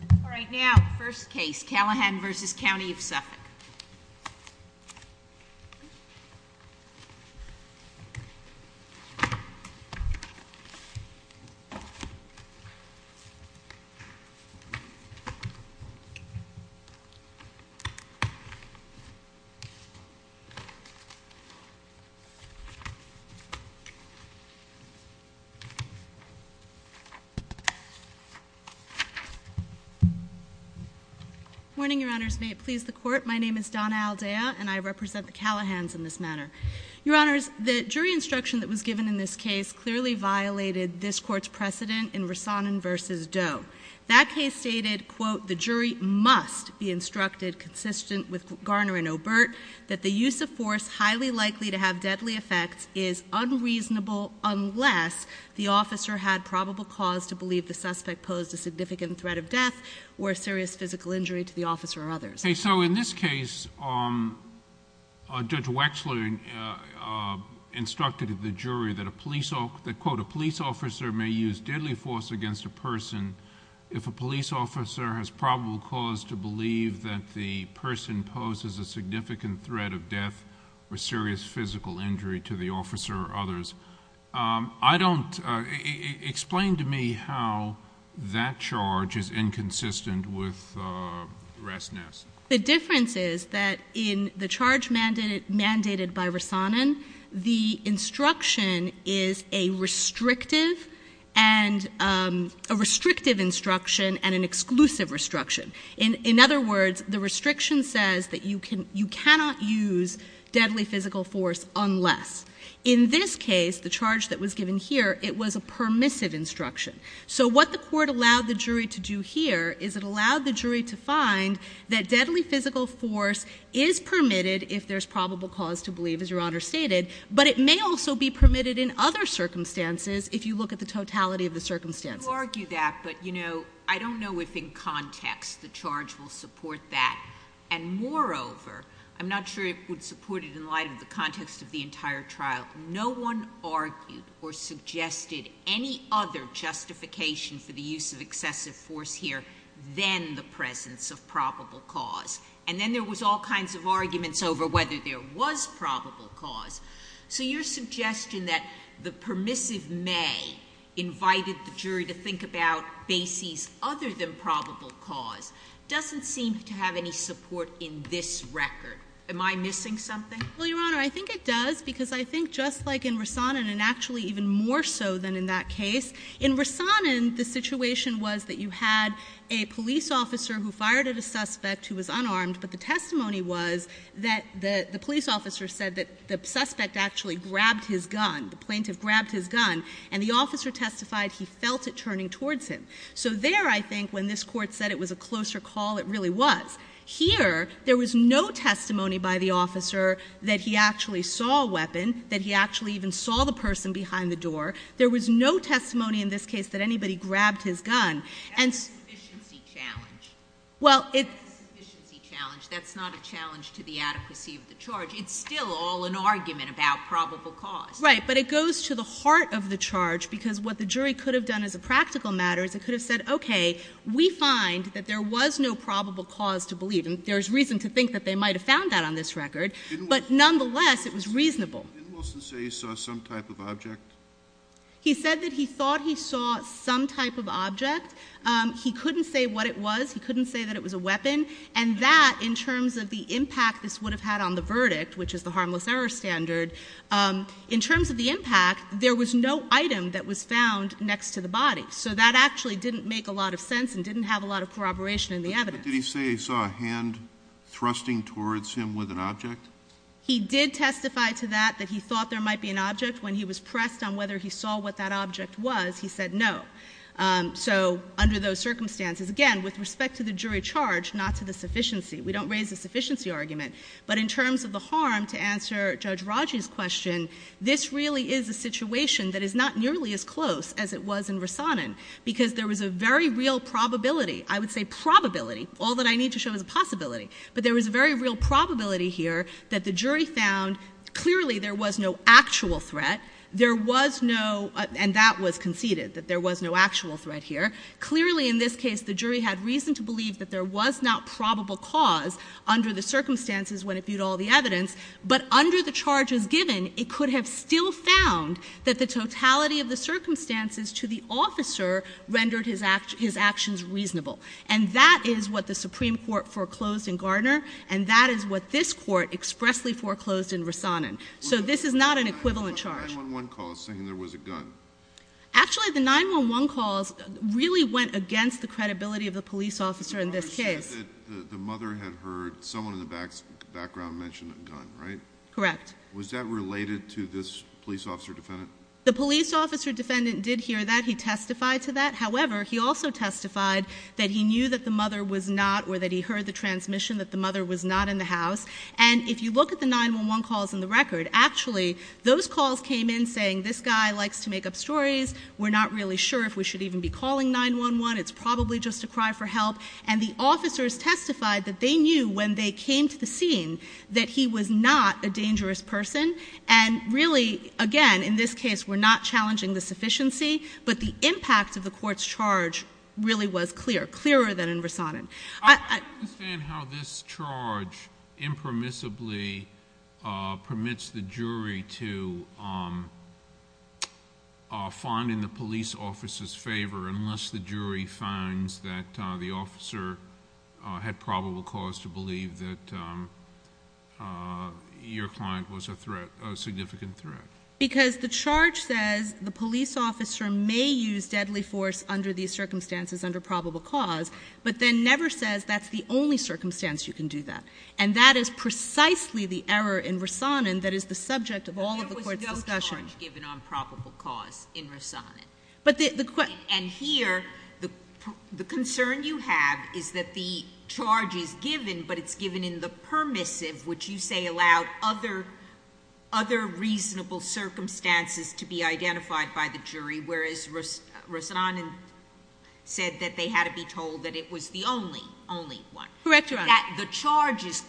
All right now, first case, Callahan v. County of Suffolk. Morning, Your Honors. May it please the court, my name is Donna Aldea and I represent the Callahans in this matter. Your Honors, the jury instruction that was given in this case clearly violated this court's precedent in Rassanen v. Doe. That case stated, quote, the jury must be instructed consistent with Garner and Obert that the use of force highly likely to have deadly effects is unreasonable unless the officer had probable cause to believe the suspect posed a significant threat of death or serious physical injury to the officer or others. Okay, so in this case, Judge Wexler instructed the jury that a police officer may use deadly force against a person if a police officer has probable cause to believe that the person poses a significant threat of death or serious physical injury to the officer or others. Explain to me how that charge is inconsistent with Rassanen. The difference is that in the charge mandated by Rassanen, the instruction is a restrictive instruction and an exclusive instruction. In other words, the restriction says that you cannot use deadly physical force unless. In this case, the charge that was given here, it was a permissive instruction. So what the court allowed the jury to do here is it allowed the jury to find that deadly physical force is permitted if there's probable cause to believe, as Your Honor stated, but it may also be permitted in other circumstances if you look at the totality of the circumstances. You argue that, but, you know, I don't know if in context the charge will support that. And moreover, I'm not sure it would support it in light of the context of the entire trial, no one argued or suggested any other justification for the use of excessive force here than the presence of probable cause. And then there was all kinds of arguments over whether there was probable cause. So your suggestion that the permissive may invited the jury to think about bases other than probable cause doesn't seem to have any support in this record. Am I missing something? Well, Your Honor, I think it does, because I think just like in Rassanen, and actually even more so than in that case, in Rassanen the situation was that you had a police officer who fired at a suspect who was unarmed, but the testimony was that the police officer said that the suspect actually grabbed his gun, the plaintiff grabbed his gun, and the officer testified he felt it turning towards him. So there, I think, when this Court said it was a closer call, it really was. Here, there was no testimony by the officer that he actually saw a weapon, that he actually even saw the person behind the door. There was no testimony in this case that anybody grabbed his gun. That's a sufficiency challenge. Well, it's... That's a sufficiency challenge. That's not a challenge to the adequacy of the charge. It's still all an argument about probable cause. Right, but it goes to the heart of the charge, because what the jury could have done as a practical matter is it could have said, okay, we find that there was no probable cause to believe, and there's reason to think that they might have found that on this record, but nonetheless it was reasonable. Didn't Wilson say he saw some type of object? He said that he thought he saw some type of object. He couldn't say what it was. He couldn't say that it was a weapon, and that in terms of the impact this would have had on the verdict, which is the harmless error standard, in terms of the impact there was no item that was found next to the body. So that actually didn't make a lot of sense and didn't have a lot of corroboration in the evidence. But did he say he saw a hand thrusting towards him with an object? He did testify to that, that he thought there might be an object. When he was pressed on whether he saw what that object was, he said no. So under those circumstances, again, with respect to the jury charge, not to the sufficiency. We don't raise a sufficiency argument. But in terms of the harm, to answer Judge Raji's question, this really is a situation that is not nearly as close as it was in Rasanen because there was a very real probability. I would say probability. All that I need to show is a possibility. But there was a very real probability here that the jury found clearly there was no actual threat. There was no, and that was conceded, that there was no actual threat here. Clearly in this case the jury had reason to believe that there was not probable cause under the circumstances when it viewed all the evidence. But under the charges given, it could have still found that the totality of the circumstances to the officer rendered his actions reasonable. And that is what the Supreme Court foreclosed in Gardner, and that is what this Court expressly foreclosed in Rasanen. So this is not an equivalent charge. The 911 calls saying there was a gun. Actually, the 911 calls really went against the credibility of the police officer in this case. The mother had heard someone in the background mention a gun, right? Correct. Was that related to this police officer defendant? The police officer defendant did hear that. He testified to that. However, he also testified that he knew that the mother was not or that he heard the transmission that the mother was not in the house. And if you look at the 911 calls in the record, actually those calls came in saying this guy likes to make up stories. We're not really sure if we should even be calling 911. It's probably just a cry for help. And the officers testified that they knew when they came to the scene that he was not a dangerous person. And really, again, in this case we're not challenging the sufficiency, but the impact of the court's charge really was clear, clearer than in Rasanen. I don't understand how this charge impermissibly permits the jury to find in the police officer's favor unless the jury finds that the officer had probable cause to believe that your client was a threat, a significant threat. Because the charge says the police officer may use deadly force under these circumstances, under probable cause, but then never says that's the only circumstance you can do that. And that is precisely the error in Rasanen that is the subject of all of the court's discussion. There was no charge given on probable cause in Rasanen. And here the concern you have is that the charge is given, but it's given in the permissive, which you say allowed other reasonable circumstances to be identified by the jury, whereas Rasanen said that they had to be told that it was the only, only one. Correct, Your Honor. That the charges,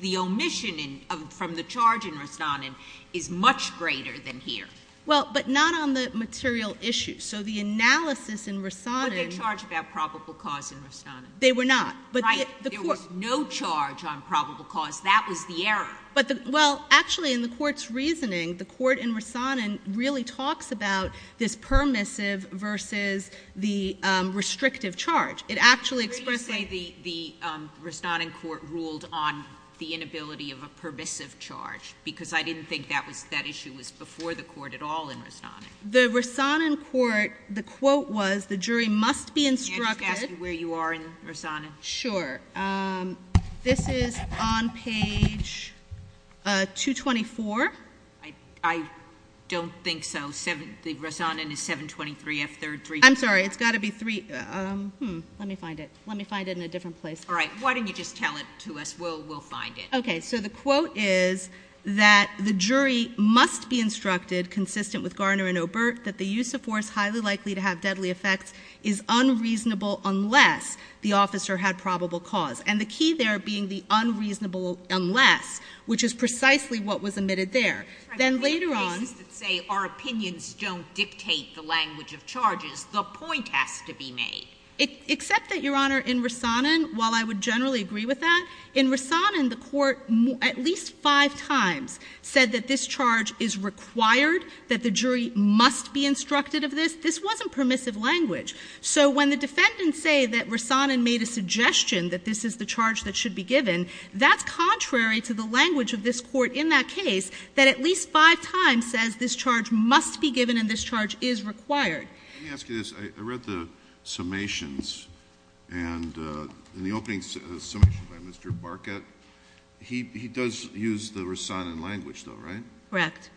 the omission from the charge in Rasanen is much greater than here. Well, but not on the material issue. So the analysis in Rasanen— But they're charged about probable cause in Rasanen. They were not. Right. There was no charge on probable cause. That was the error. Well, actually, in the court's reasoning, the court in Rasanen really talks about this permissive versus the restrictive charge. It actually expresses— I agree to say the Rasanen court ruled on the inability of a permissive charge because I didn't think that issue was before the court at all in Rasanen. The Rasanen court, the quote was, the jury must be instructed— May I just ask you where you are in Rasanen? Sure. This is on page 224. I don't think so. The Rasanen is 723F, third— I'm sorry. It's got to be three—hmm. Let me find it. Let me find it in a different place. All right. Why don't you just tell it to us. We'll find it. Okay. So the quote is that the jury must be instructed, consistent with Garner and Obert, that the use of force highly likely to have deadly effects is unreasonable unless the officer had probable cause. And the key there being the unreasonable unless, which is precisely what was admitted there. Then later on— I'm trying to think of cases that say our opinions don't dictate the language of charges. The point has to be made. Except that, Your Honor, in Rasanen, while I would generally agree with that, in Rasanen, the Court at least five times said that this charge is required, that the jury must be instructed of this. This wasn't permissive language. So when the defendants say that Rasanen made a suggestion that this is the charge that should be given, that's contrary to the language of this Court in that case, that at least five times says this charge must be given and this charge is required. Let me ask you this. I read the summations and in the opening summations by Mr. Barkat, he does use the Rasanen language though, right? Correct.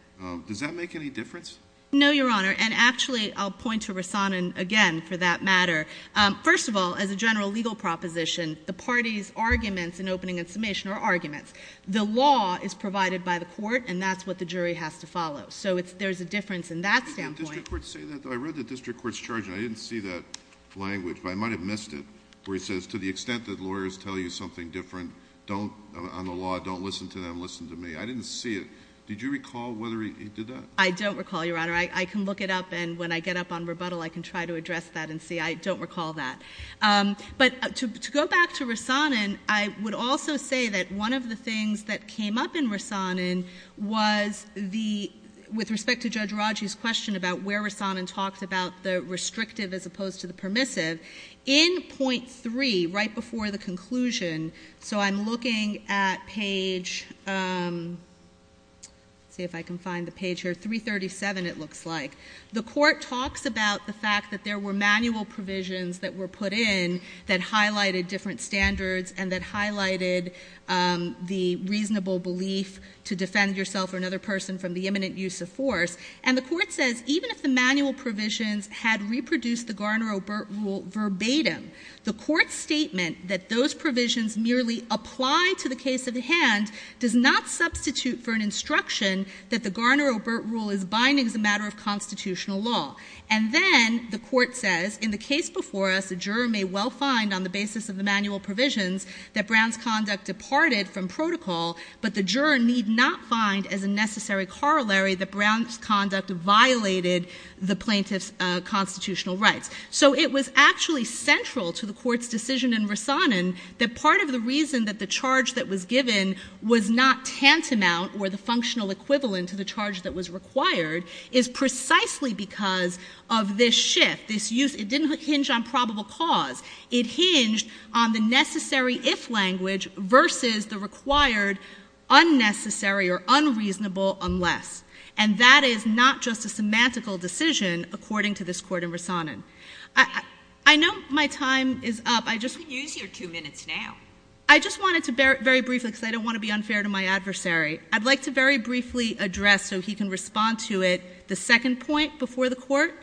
Does that make any difference? No, Your Honor. And actually I'll point to Rasanen again for that matter. First of all, as a general legal proposition, the parties' arguments in opening and summation are arguments. The law is provided by the Court and that's what the jury has to follow. So there's a difference in that standpoint. Did the district court say that though? I read the district court's charge and I didn't see that language. But I might have missed it where he says to the extent that lawyers tell you something different on the law, don't listen to them, listen to me. I didn't see it. Did you recall whether he did that? I don't recall, Your Honor. I can look it up and when I get up on rebuttal, I can try to address that and see. I don't recall that. But to go back to Rasanen, I would also say that one of the things that came up in Rasanen was the, with respect to Judge Raji's question about where Rasanen talked about the restrictive as opposed to the permissive, in point three, right before the conclusion, so I'm looking at page, let's see if I can find the page here, 337 it looks like. The court talks about the fact that there were manual provisions that were put in that highlighted different standards and that highlighted the reasonable belief to defend yourself or another person from the imminent use of force. And the court says even if the manual provisions had reproduced the Garner-Obert rule verbatim, the court's statement that those provisions merely apply to the case at hand does not substitute for an instruction that the Garner-Obert rule is binding as a matter of constitutional law. And then the court says in the case before us, a juror may well find on the basis of the manual provisions that Brown's conduct departed from protocol, but the juror need not find as a necessary corollary that Brown's conduct violated the plaintiff's constitutional rights. So it was actually central to the court's decision in Rasanen that part of the reason that the charge that was given was not tantamount or the functional equivalent to the charge that was required is precisely because of this shift, this use. It didn't hinge on probable cause. It hinged on the necessary if language versus the required unnecessary or unreasonable unless. And that is not just a semantical decision, according to this court in Rasanen. I know my time is up. I just want to be brief. I don't want to be unfair to my adversary. I'd like to very briefly address, so he can respond to it, the second point before the court.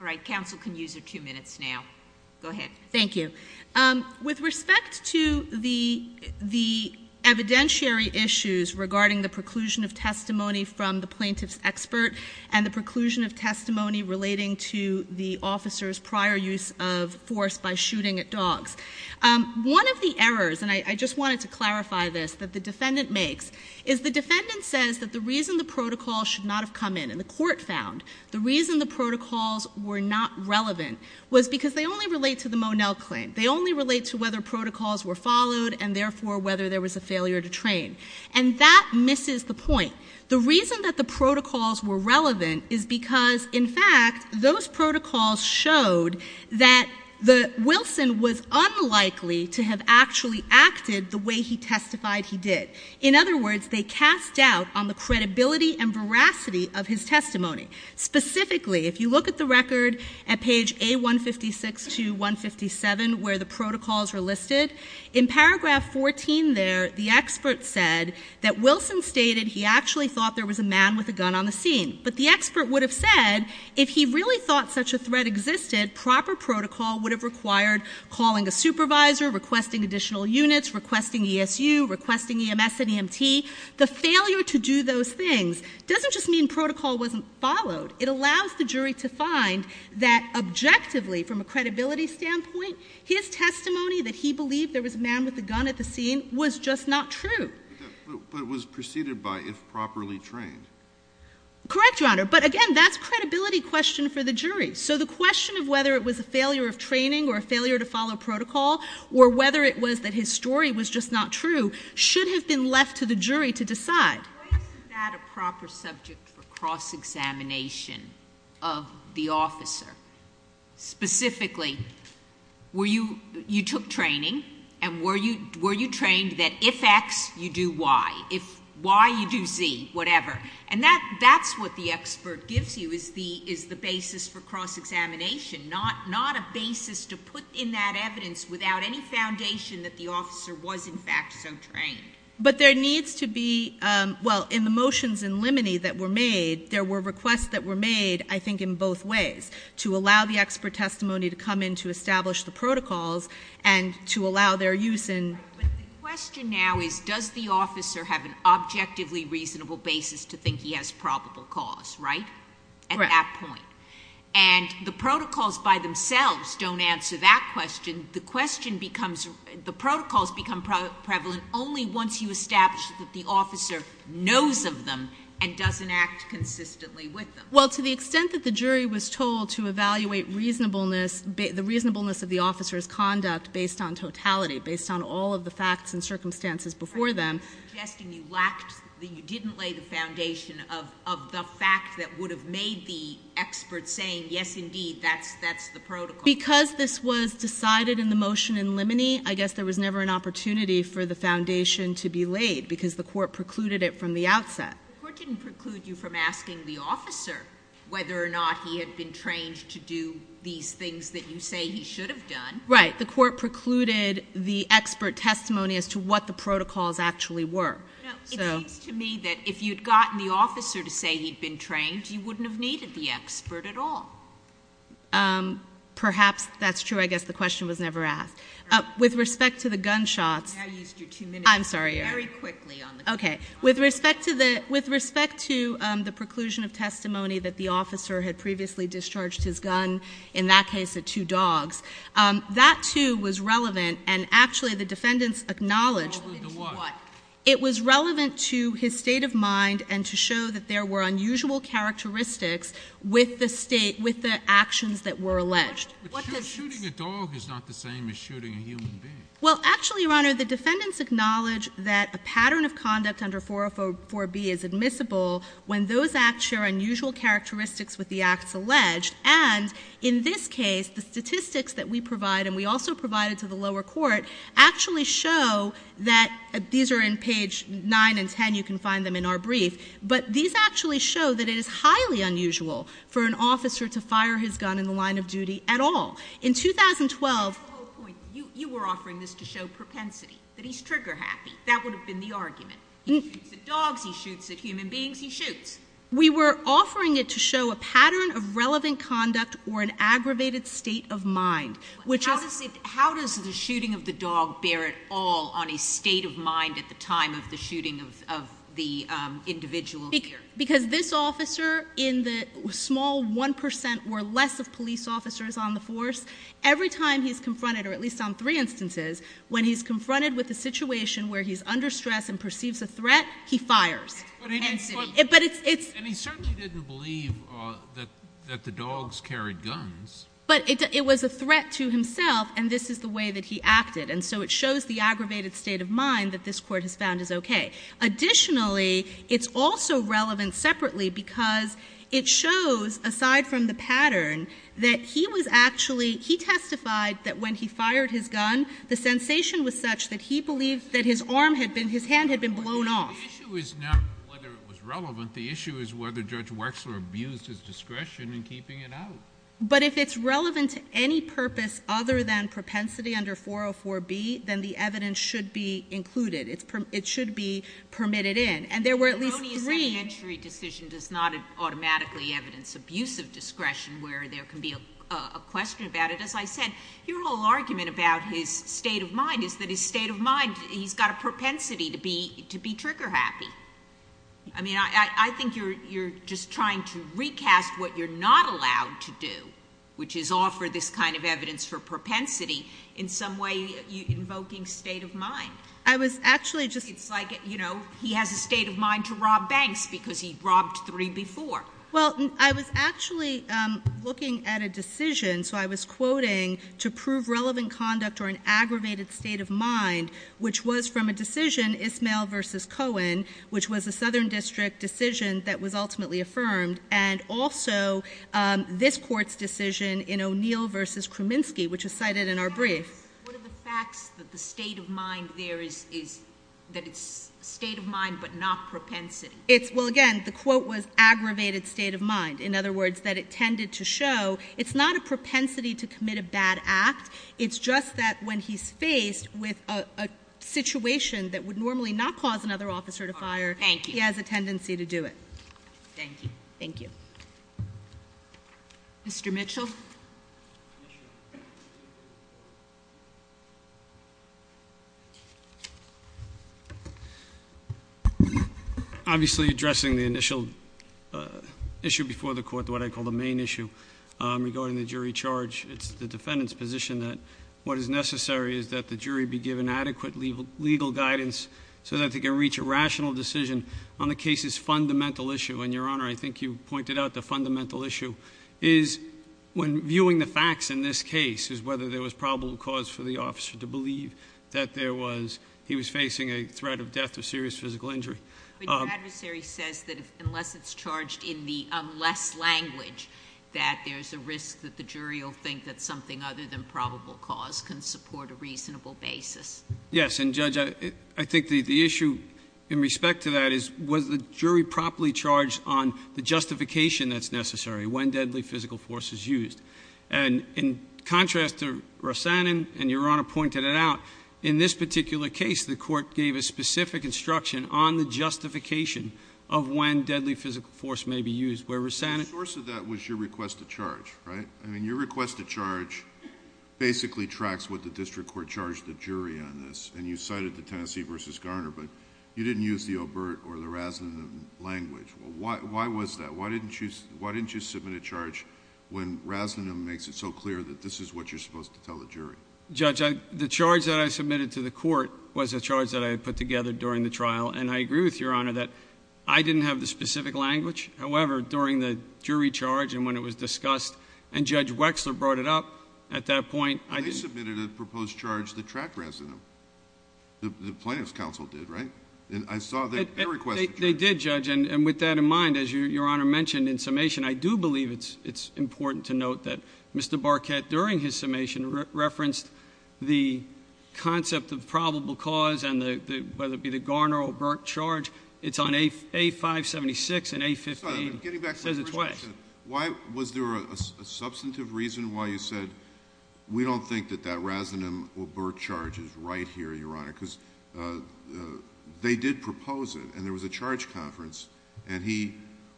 All right. Counsel can use your two minutes now. Go ahead. Thank you. With respect to the evidentiary issues regarding the preclusion of testimony from the plaintiff's expert and the preclusion of testimony relating to the officer's prior use of force by shooting at dogs, one of the errors, and I just wanted to clarify this, that the defendant makes, is the defendant says that the reason the protocol should not have come in, and the court found, the reason the protocols were not relevant was because they only relate to the Monell claim. They only relate to whether protocols were followed and, therefore, whether there was a failure to train. And that misses the point. The reason that the protocols were relevant is because, in fact, those protocols showed that Wilson was unlikely to have actually acted the way he testified he did. In other words, they cast doubt on the credibility and veracity of his testimony. Specifically, if you look at the record at page A156 to 157, where the protocols are listed, in paragraph 14 there, the expert said that Wilson stated he actually thought there was a man with a gun on the scene. But the expert would have said, if he really thought such a threat existed, proper protocol would have required calling a supervisor, requesting additional units, requesting ESU, requesting EMS and EMT. The failure to do those things doesn't just mean protocol wasn't followed. It allows the jury to find that, objectively, from a credibility standpoint, his testimony that he believed there was a man with a gun at the scene was just not true. But it was preceded by if properly trained. Correct, Your Honor. But, again, that's a credibility question for the jury. So the question of whether it was a failure of training or a failure to follow protocol, or whether it was that his story was just not true, should have been left to the jury to decide. Why isn't that a proper subject for cross-examination of the officer? Specifically, you took training, and were you trained that if X, you do Y. If Y, you do Z, whatever. And that's what the expert gives you is the basis for cross-examination, not a basis to put in that evidence without any foundation that the officer was, in fact, so trained. But there needs to be, well, in the motions in limine that were made, there were requests that were made, I think, in both ways, to allow the expert testimony to come in to establish the protocols and to allow their use in... But the question now is, does the officer have an objectively reasonable basis to think he has probable cause, right? At that point. And the protocols by themselves don't answer that question. The protocols become prevalent only once you establish that the officer knows of them and doesn't act consistently with them. Well, to the extent that the jury was told to evaluate reasonableness, the reasonableness of the officer's conduct based on totality, based on all of the facts and circumstances before them... You're suggesting you lacked, that you didn't lay the foundation of the fact that would have made the expert saying, yes, indeed, that's the protocol. Because this was decided in the motion in limine, I guess there was never an opportunity for the foundation to be laid because the court precluded it from the outset. The court didn't preclude you from asking the officer whether or not he had been trained to do these things that you say he should have done. Right. The court precluded the expert testimony as to what the protocols actually were. No. So... It seems to me that if you'd gotten the officer to say he'd been trained, you wouldn't have needed the expert at all. Perhaps that's true. I guess the question was never asked. With respect to the gunshots... I used your two minutes. I'm sorry, Your Honor. Very quickly on the gunshots. Okay. With respect to the preclusion of testimony that the officer had previously discharged his gun, in that case, at two dogs, that, too, was relevant. And, actually, the defendants acknowledged... Relevant to what? It was relevant to his state of mind and to show that there were unusual characteristics with the actions that were alleged. But shooting a dog is not the same as shooting a human being. Well, actually, Your Honor, the defendants acknowledge that a pattern of conduct under 404B is admissible when those acts share unusual characteristics with the acts alleged. And, in this case, the statistics that we provide, and we also provide it to the lower court, actually show that... These are in page 9 and 10. You can find them in our brief. But these actually show that it is highly unusual for an officer to fire his gun in the line of duty at all. In 2012... That's the whole point. You were offering this to show propensity, that he's trigger-happy. That would have been the argument. He shoots at dogs. He shoots at human beings. He shoots. We were offering it to show a pattern of relevant conduct or an aggravated state of mind, which... How does the shooting of the dog bear at all on a state of mind at the time of the shooting of the individual here? Because this officer, in the small 1 percent or less of police officers on the force, every time he's confronted, or at least on three instances, when he's confronted with a situation where he's under stress and perceives a threat, he fires. But it's... And he certainly didn't believe that the dogs carried guns. But it was a threat to himself, and this is the way that he acted. And so it shows the aggravated state of mind that this Court has found is okay. Additionally, it's also relevant separately because it shows, aside from the pattern, that he was actually... He testified that when he fired his gun, the sensation was such that he believed that his arm had been... His hand had been blown off. The issue is not whether it was relevant. The issue is whether Judge Wechsler abused his discretion in keeping it out. But if it's relevant to any purpose other than propensity under 404B, then the evidence should be included. It should be permitted in. And there were at least three... The erroneous entry decision does not automatically evidence abusive discretion where there can be a question about it. As I said, your whole argument about his state of mind is that his state of mind... He's got a propensity to be trigger happy. I mean, I think you're just trying to recast what you're not allowed to do, which is offer this kind of evidence for propensity in some way invoking state of mind. I was actually just... It's like, you know, he has a state of mind to rob banks because he robbed three before. Well, I was actually looking at a decision. So, I was quoting to prove relevant conduct or an aggravated state of mind, which was from a decision, Ismail v. Cohen, which was a Southern District decision that was ultimately affirmed. And also, this Court's decision in O'Neill v. Kraminski, which is cited in our brief. What are the facts that the state of mind there is... that it's state of mind, but not propensity? Well, again, the quote was aggravated state of mind. In other words, that it tended to show it's not a propensity to commit a bad act. It's just that when he's faced with a situation that would normally not cause another officer to fire... Thank you.... he has a tendency to do it. Thank you. Thank you. Mr. Mitchell. Obviously, addressing the initial issue before the Court, what I call the main issue, regarding the jury charge. It's the defendant's position that what is necessary is that the jury be given adequate legal guidance, so that they can reach a rational decision on the case's fundamental issue. And, Your Honor, I think you pointed out the fundamental issue is when viewing the facts in this case, is whether there was probable cause for the officer to believe that there was... he was facing a threat of death or serious physical injury. But, your adversary says that unless it's charged in the unless language, that there's a risk that the jury will think that something other than probable cause can support a reasonable basis. Yes. And, Judge, I think the issue in respect to that is, was the jury properly charged on the justification that's necessary, when deadly physical force is used? And, in contrast to Rosannon, and Your Honor pointed it out, in this particular case, the Court gave a specific instruction on the justification of when deadly physical force may be used. Where Rosannon... The source of that was your request to charge, right? I mean, your request to charge basically tracks what the District Court charged the jury on this. And, you cited the Tennessee v. Garner, but you didn't use the Obert or the Rosannon language. Why was that? Why didn't you submit a charge when Rosannon makes it so clear that this is what you're supposed to tell the jury? Judge, the charge that I submitted to the Court was a charge that I had put together during the trial. And, I agree with Your Honor that I didn't have the specific language. However, during the jury charge, and when it was discussed, and Judge Wexler brought it up, at that point... They submitted a proposed charge that tracked Rosannon. The Plaintiff's Counsel did, right? And, I saw their request to charge. They did, Judge. And, with that in mind, as Your Honor mentioned in summation, I do believe it's important to note that Mr. Barquette, during his summation, referenced the concept of probable cause. And, whether it be the Garner-Obert charge, it's on A576 and A58. It says it twice. Why was there a substantive reason why you said, we don't think that that Rosannon-Obert charge is right here, Your Honor? Because, they did propose it and there was a charge conference. And, he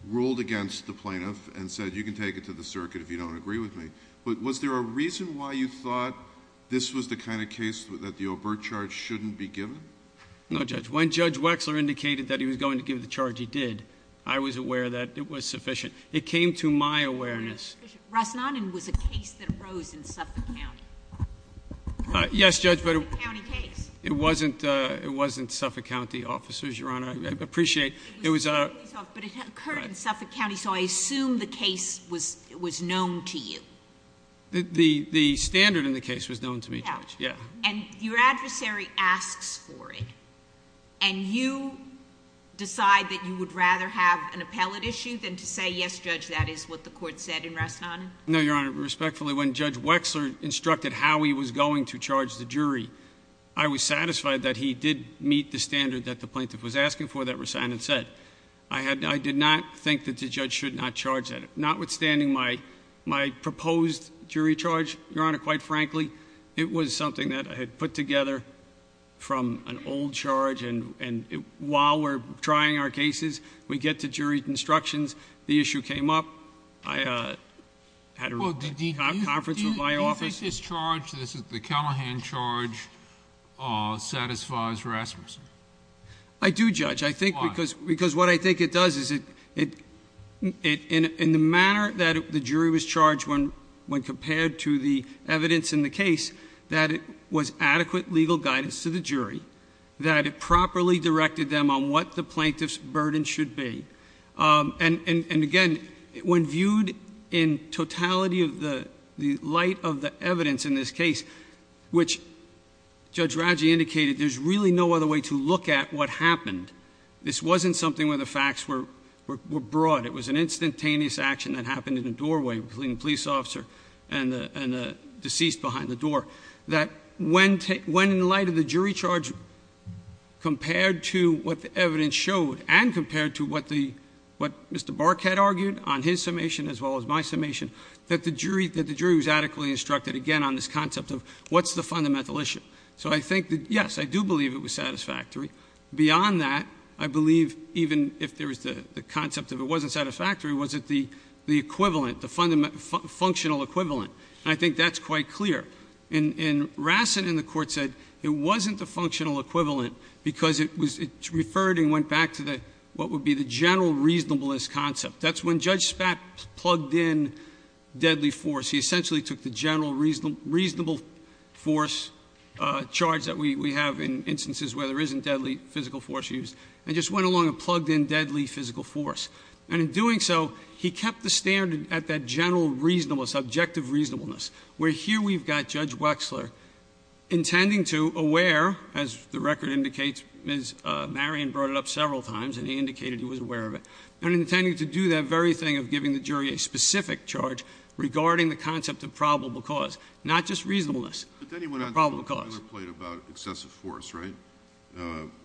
ruled against the Plaintiff and said, you can take it to the circuit if you don't agree with me. But, was there a reason why you thought this was the kind of case that the Obert charge shouldn't be given? No, Judge. When Judge Wexler indicated that he was going to give the charge, he did. I was aware that it was sufficient. It came to my awareness. Rosannon was a case that arose in Suffolk County. Yes, Judge, but... A county case. I appreciate... But, it occurred in Suffolk County, so I assume the case was known to you. The standard in the case was known to me, Judge. And, your adversary asks for it. And, you decide that you would rather have an appellate issue than to say, yes, Judge, that is what the court said in Rosannon? No, Your Honor. Respectfully, when Judge Wexler instructed how he was going to charge the jury, I was satisfied that he did meet the standard that the Plaintiff was asking for that Rosannon said. I did not think that the Judge should not charge that. Notwithstanding my proposed jury charge, Your Honor, quite frankly, it was something that I had put together from an old charge. And, while we're trying our cases, we get to jury instructions. The issue came up. I had a conference with my office. Do you think this charge, the Callahan charge, satisfies Rasmussen? I do, Judge. Why? Because what I think it does is, in the manner that the jury was charged when compared to the evidence in the case, that it was adequate legal guidance to the jury. That it properly directed them on what the Plaintiff's burden should be. And, again, when viewed in totality of the light of the evidence in this case, which Judge Radji indicated, there's really no other way to look at what happened. This wasn't something where the facts were broad. It was an instantaneous action that happened in a doorway between the police officer and the deceased behind the door. That, when in light of the jury charge, compared to what the evidence showed, and compared to what Mr. Bark had argued on his summation as well as my summation, that the jury was adequately instructed, again, on this concept of what's the fundamental issue. So, I think that, yes, I do believe it was satisfactory. Beyond that, I believe even if there was the concept of it wasn't satisfactory, was it the equivalent, the functional equivalent? And I think that's quite clear. And Rassen in the court said it wasn't the functional equivalent because it was referred and went back to what would be the general reasonableness concept. That's when Judge Spatz plugged in deadly force. He essentially took the general reasonable force charge that we have in instances where there isn't deadly physical force used and just went along and plugged in deadly physical force. And in doing so, he kept the standard at that general reasonableness, objective reasonableness, where here we've got Judge Wexler intending to, aware, as the record indicates, Ms. Marion brought it up several times and he indicated he was aware of it, and intending to do that very thing of giving the jury a specific charge regarding the concept of probable cause, not just reasonableness, but probable cause. But then he went on to give a boilerplate about excessive force, right?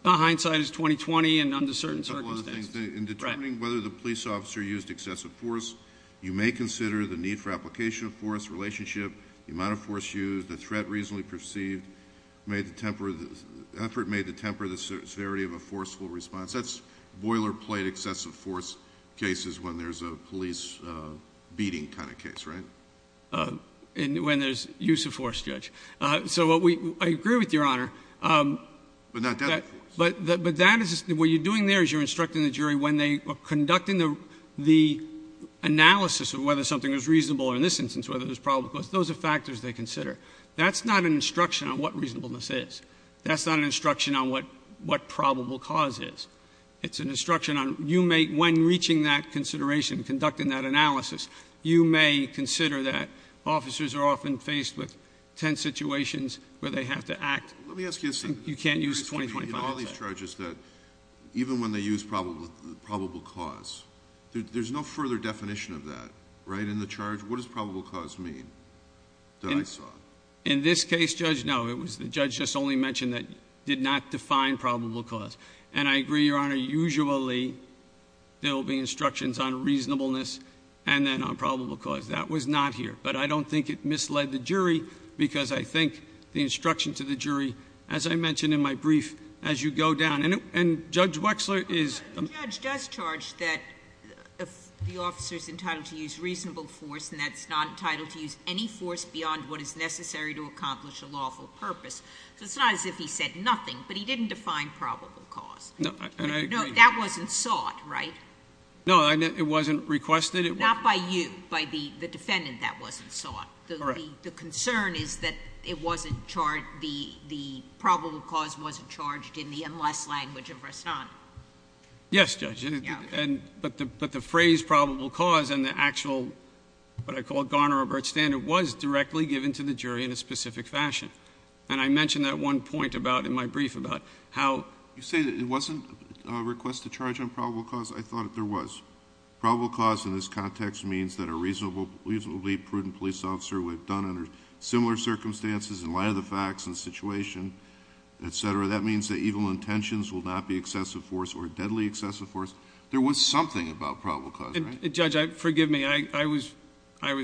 Hindsight is 20-20 and under certain circumstances. In determining whether the police officer used excessive force, you may consider the need for application of force, relationship, the amount of force used, the threat reasonably perceived, effort made to temper the severity of a forceful response. That's boilerplate excessive force cases when there's a police beating kind of case, right? So I agree with Your Honor. But not deadly force. But what you're doing there is you're instructing the jury when they are conducting the analysis of whether something is reasonable, or in this instance whether there's probable cause, those are factors they consider. That's not an instruction on what reasonableness is. That's not an instruction on what probable cause is. You may consider that officers are often faced with tense situations where they have to act. Let me ask you a second. You can't use 20-25. In all these charges that even when they use probable cause, there's no further definition of that, right? In the charge, what does probable cause mean that I saw? In this case, Judge, no. The judge just only mentioned that it did not define probable cause. And I agree, Your Honor, usually there will be instructions on reasonableness and then on probable cause. That was not here. But I don't think it misled the jury because I think the instruction to the jury, as I mentioned in my brief, as you go down, and Judge Wexler is- The judge does charge that the officer is entitled to use reasonable force, and that's not entitled to use any force beyond what is necessary to accomplish a lawful purpose. So it's not as if he said nothing, but he didn't define probable cause. No, and I agree. No, that wasn't sought, right? No, it wasn't requested. Not by you, by the defendant that wasn't sought. Correct. The concern is that the probable cause wasn't charged in the unless language of Rastani. Yes, Judge. But the phrase probable cause and the actual what I call Garner-Roberts standard was directly given to the jury in a specific fashion. And I mentioned that one point in my brief about how- You say that it wasn't a request to charge on probable cause? I thought there was. Probable cause in this context means that a reasonably prudent police officer would have done under similar circumstances, in light of the facts and situation, et cetera. That means that evil intentions will not be excessive force or deadly excessive force. There was something about probable cause, right? Judge, forgive me. I was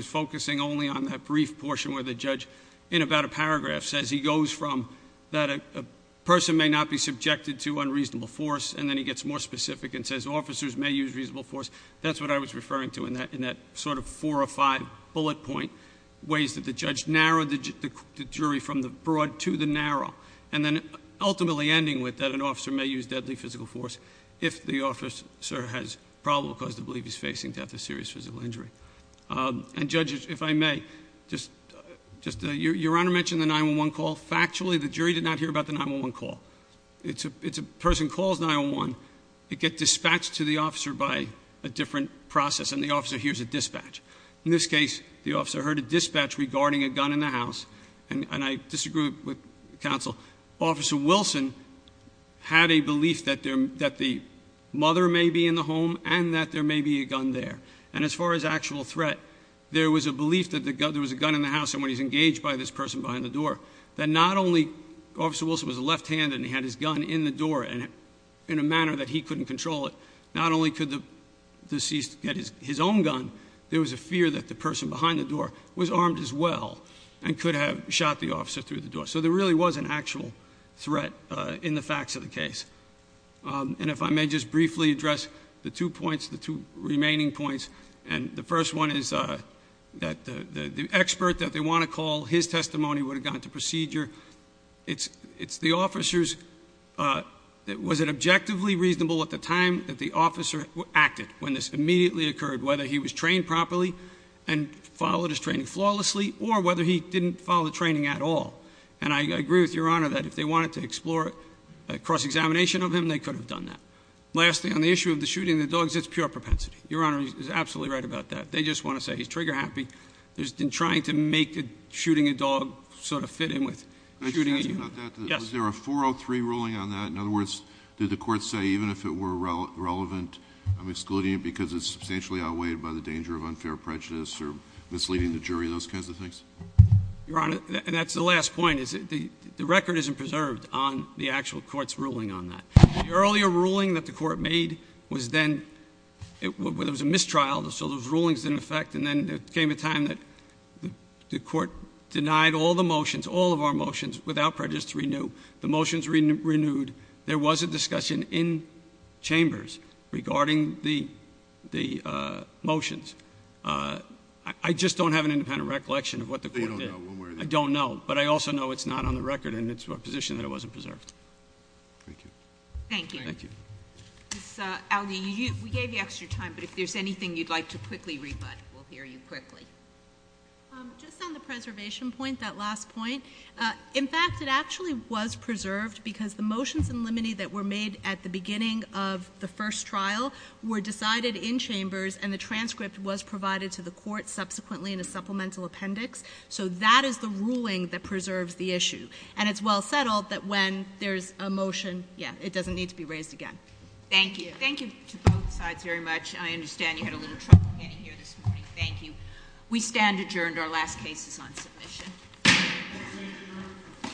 focusing only on that brief portion where the judge, in about a paragraph, says he goes from that a person may not be subjected to unreasonable force, and then he gets more specific and says officers may use reasonable force. That's what I was referring to in that sort of four or five bullet point ways that the judge narrowed the jury from the broad to the narrow. And then ultimately ending with that an officer may use deadly physical force, if the officer has probable cause to believe he's facing death or serious physical injury. And judges, if I may, your honor mentioned the 911 call. Factually, the jury did not hear about the 911 call. It's a person calls 911. They get dispatched to the officer by a different process, and the officer hears a dispatch. In this case, the officer heard a dispatch regarding a gun in the house. And I disagree with counsel. Officer Wilson had a belief that the mother may be in the home and that there may be a gun there. And as far as actual threat, there was a belief that there was a gun in the house and when he's engaged by this person behind the door, that not only Officer Wilson was left handed and he had his gun in the door in a manner that he couldn't control it. Not only could the deceased get his own gun, there was a fear that the person behind the door was armed as well and could have shot the officer through the door. So there really was an actual threat in the facts of the case. And if I may just briefly address the two points, the two remaining points. And the first one is that the expert that they want to call, his testimony would have gone to procedure. It's the officer's, was it objectively reasonable at the time that the officer acted, when this immediately occurred, whether he was trained properly and followed his training flawlessly or whether he didn't follow the training at all. And I agree with Your Honor that if they wanted to explore a cross examination of him, they could have done that. Lastly, on the issue of the shooting of the dogs, it's pure propensity. Your Honor is absolutely right about that. They just want to say he's trigger happy. There's been trying to make shooting a dog sort of fit in with shooting a human. Yes. Was there a 403 ruling on that? In other words, did the court say, even if it were relevant, I'm excluding it because it's substantially outweighed by the danger of unfair prejudice or misleading the jury, those kinds of things? Your Honor, that's the last point, is that the record isn't preserved on the actual court's ruling on that. The earlier ruling that the court made was then, it was a mistrial, so those rulings didn't affect. And then it came a time that the court denied all the motions, all of our motions, without prejudice to renew. The motions renewed. There was a discussion in chambers regarding the motions. I just don't have an independent recollection of what the court did. I don't know. But I also know it's not on the record and it's a position that it wasn't preserved. Thank you. Thank you. Thank you. Ms. Aldi, we gave you extra time, but if there's anything you'd like to quickly rebut, we'll hear you quickly. Just on the preservation point, that last point, in fact, it actually was preserved because the motions in limine that were made at the beginning of the first trial were decided in chambers and the transcript was provided to the court subsequently in a supplemental appendix. So that is the ruling that preserves the issue. And it's well settled that when there's a motion, yeah, it doesn't need to be raised again. Thank you. Thank you to both sides very much. I understand you had a little trouble getting here this morning. Thank you. We stand adjourned. Our last case is on submission. We stand adjourned.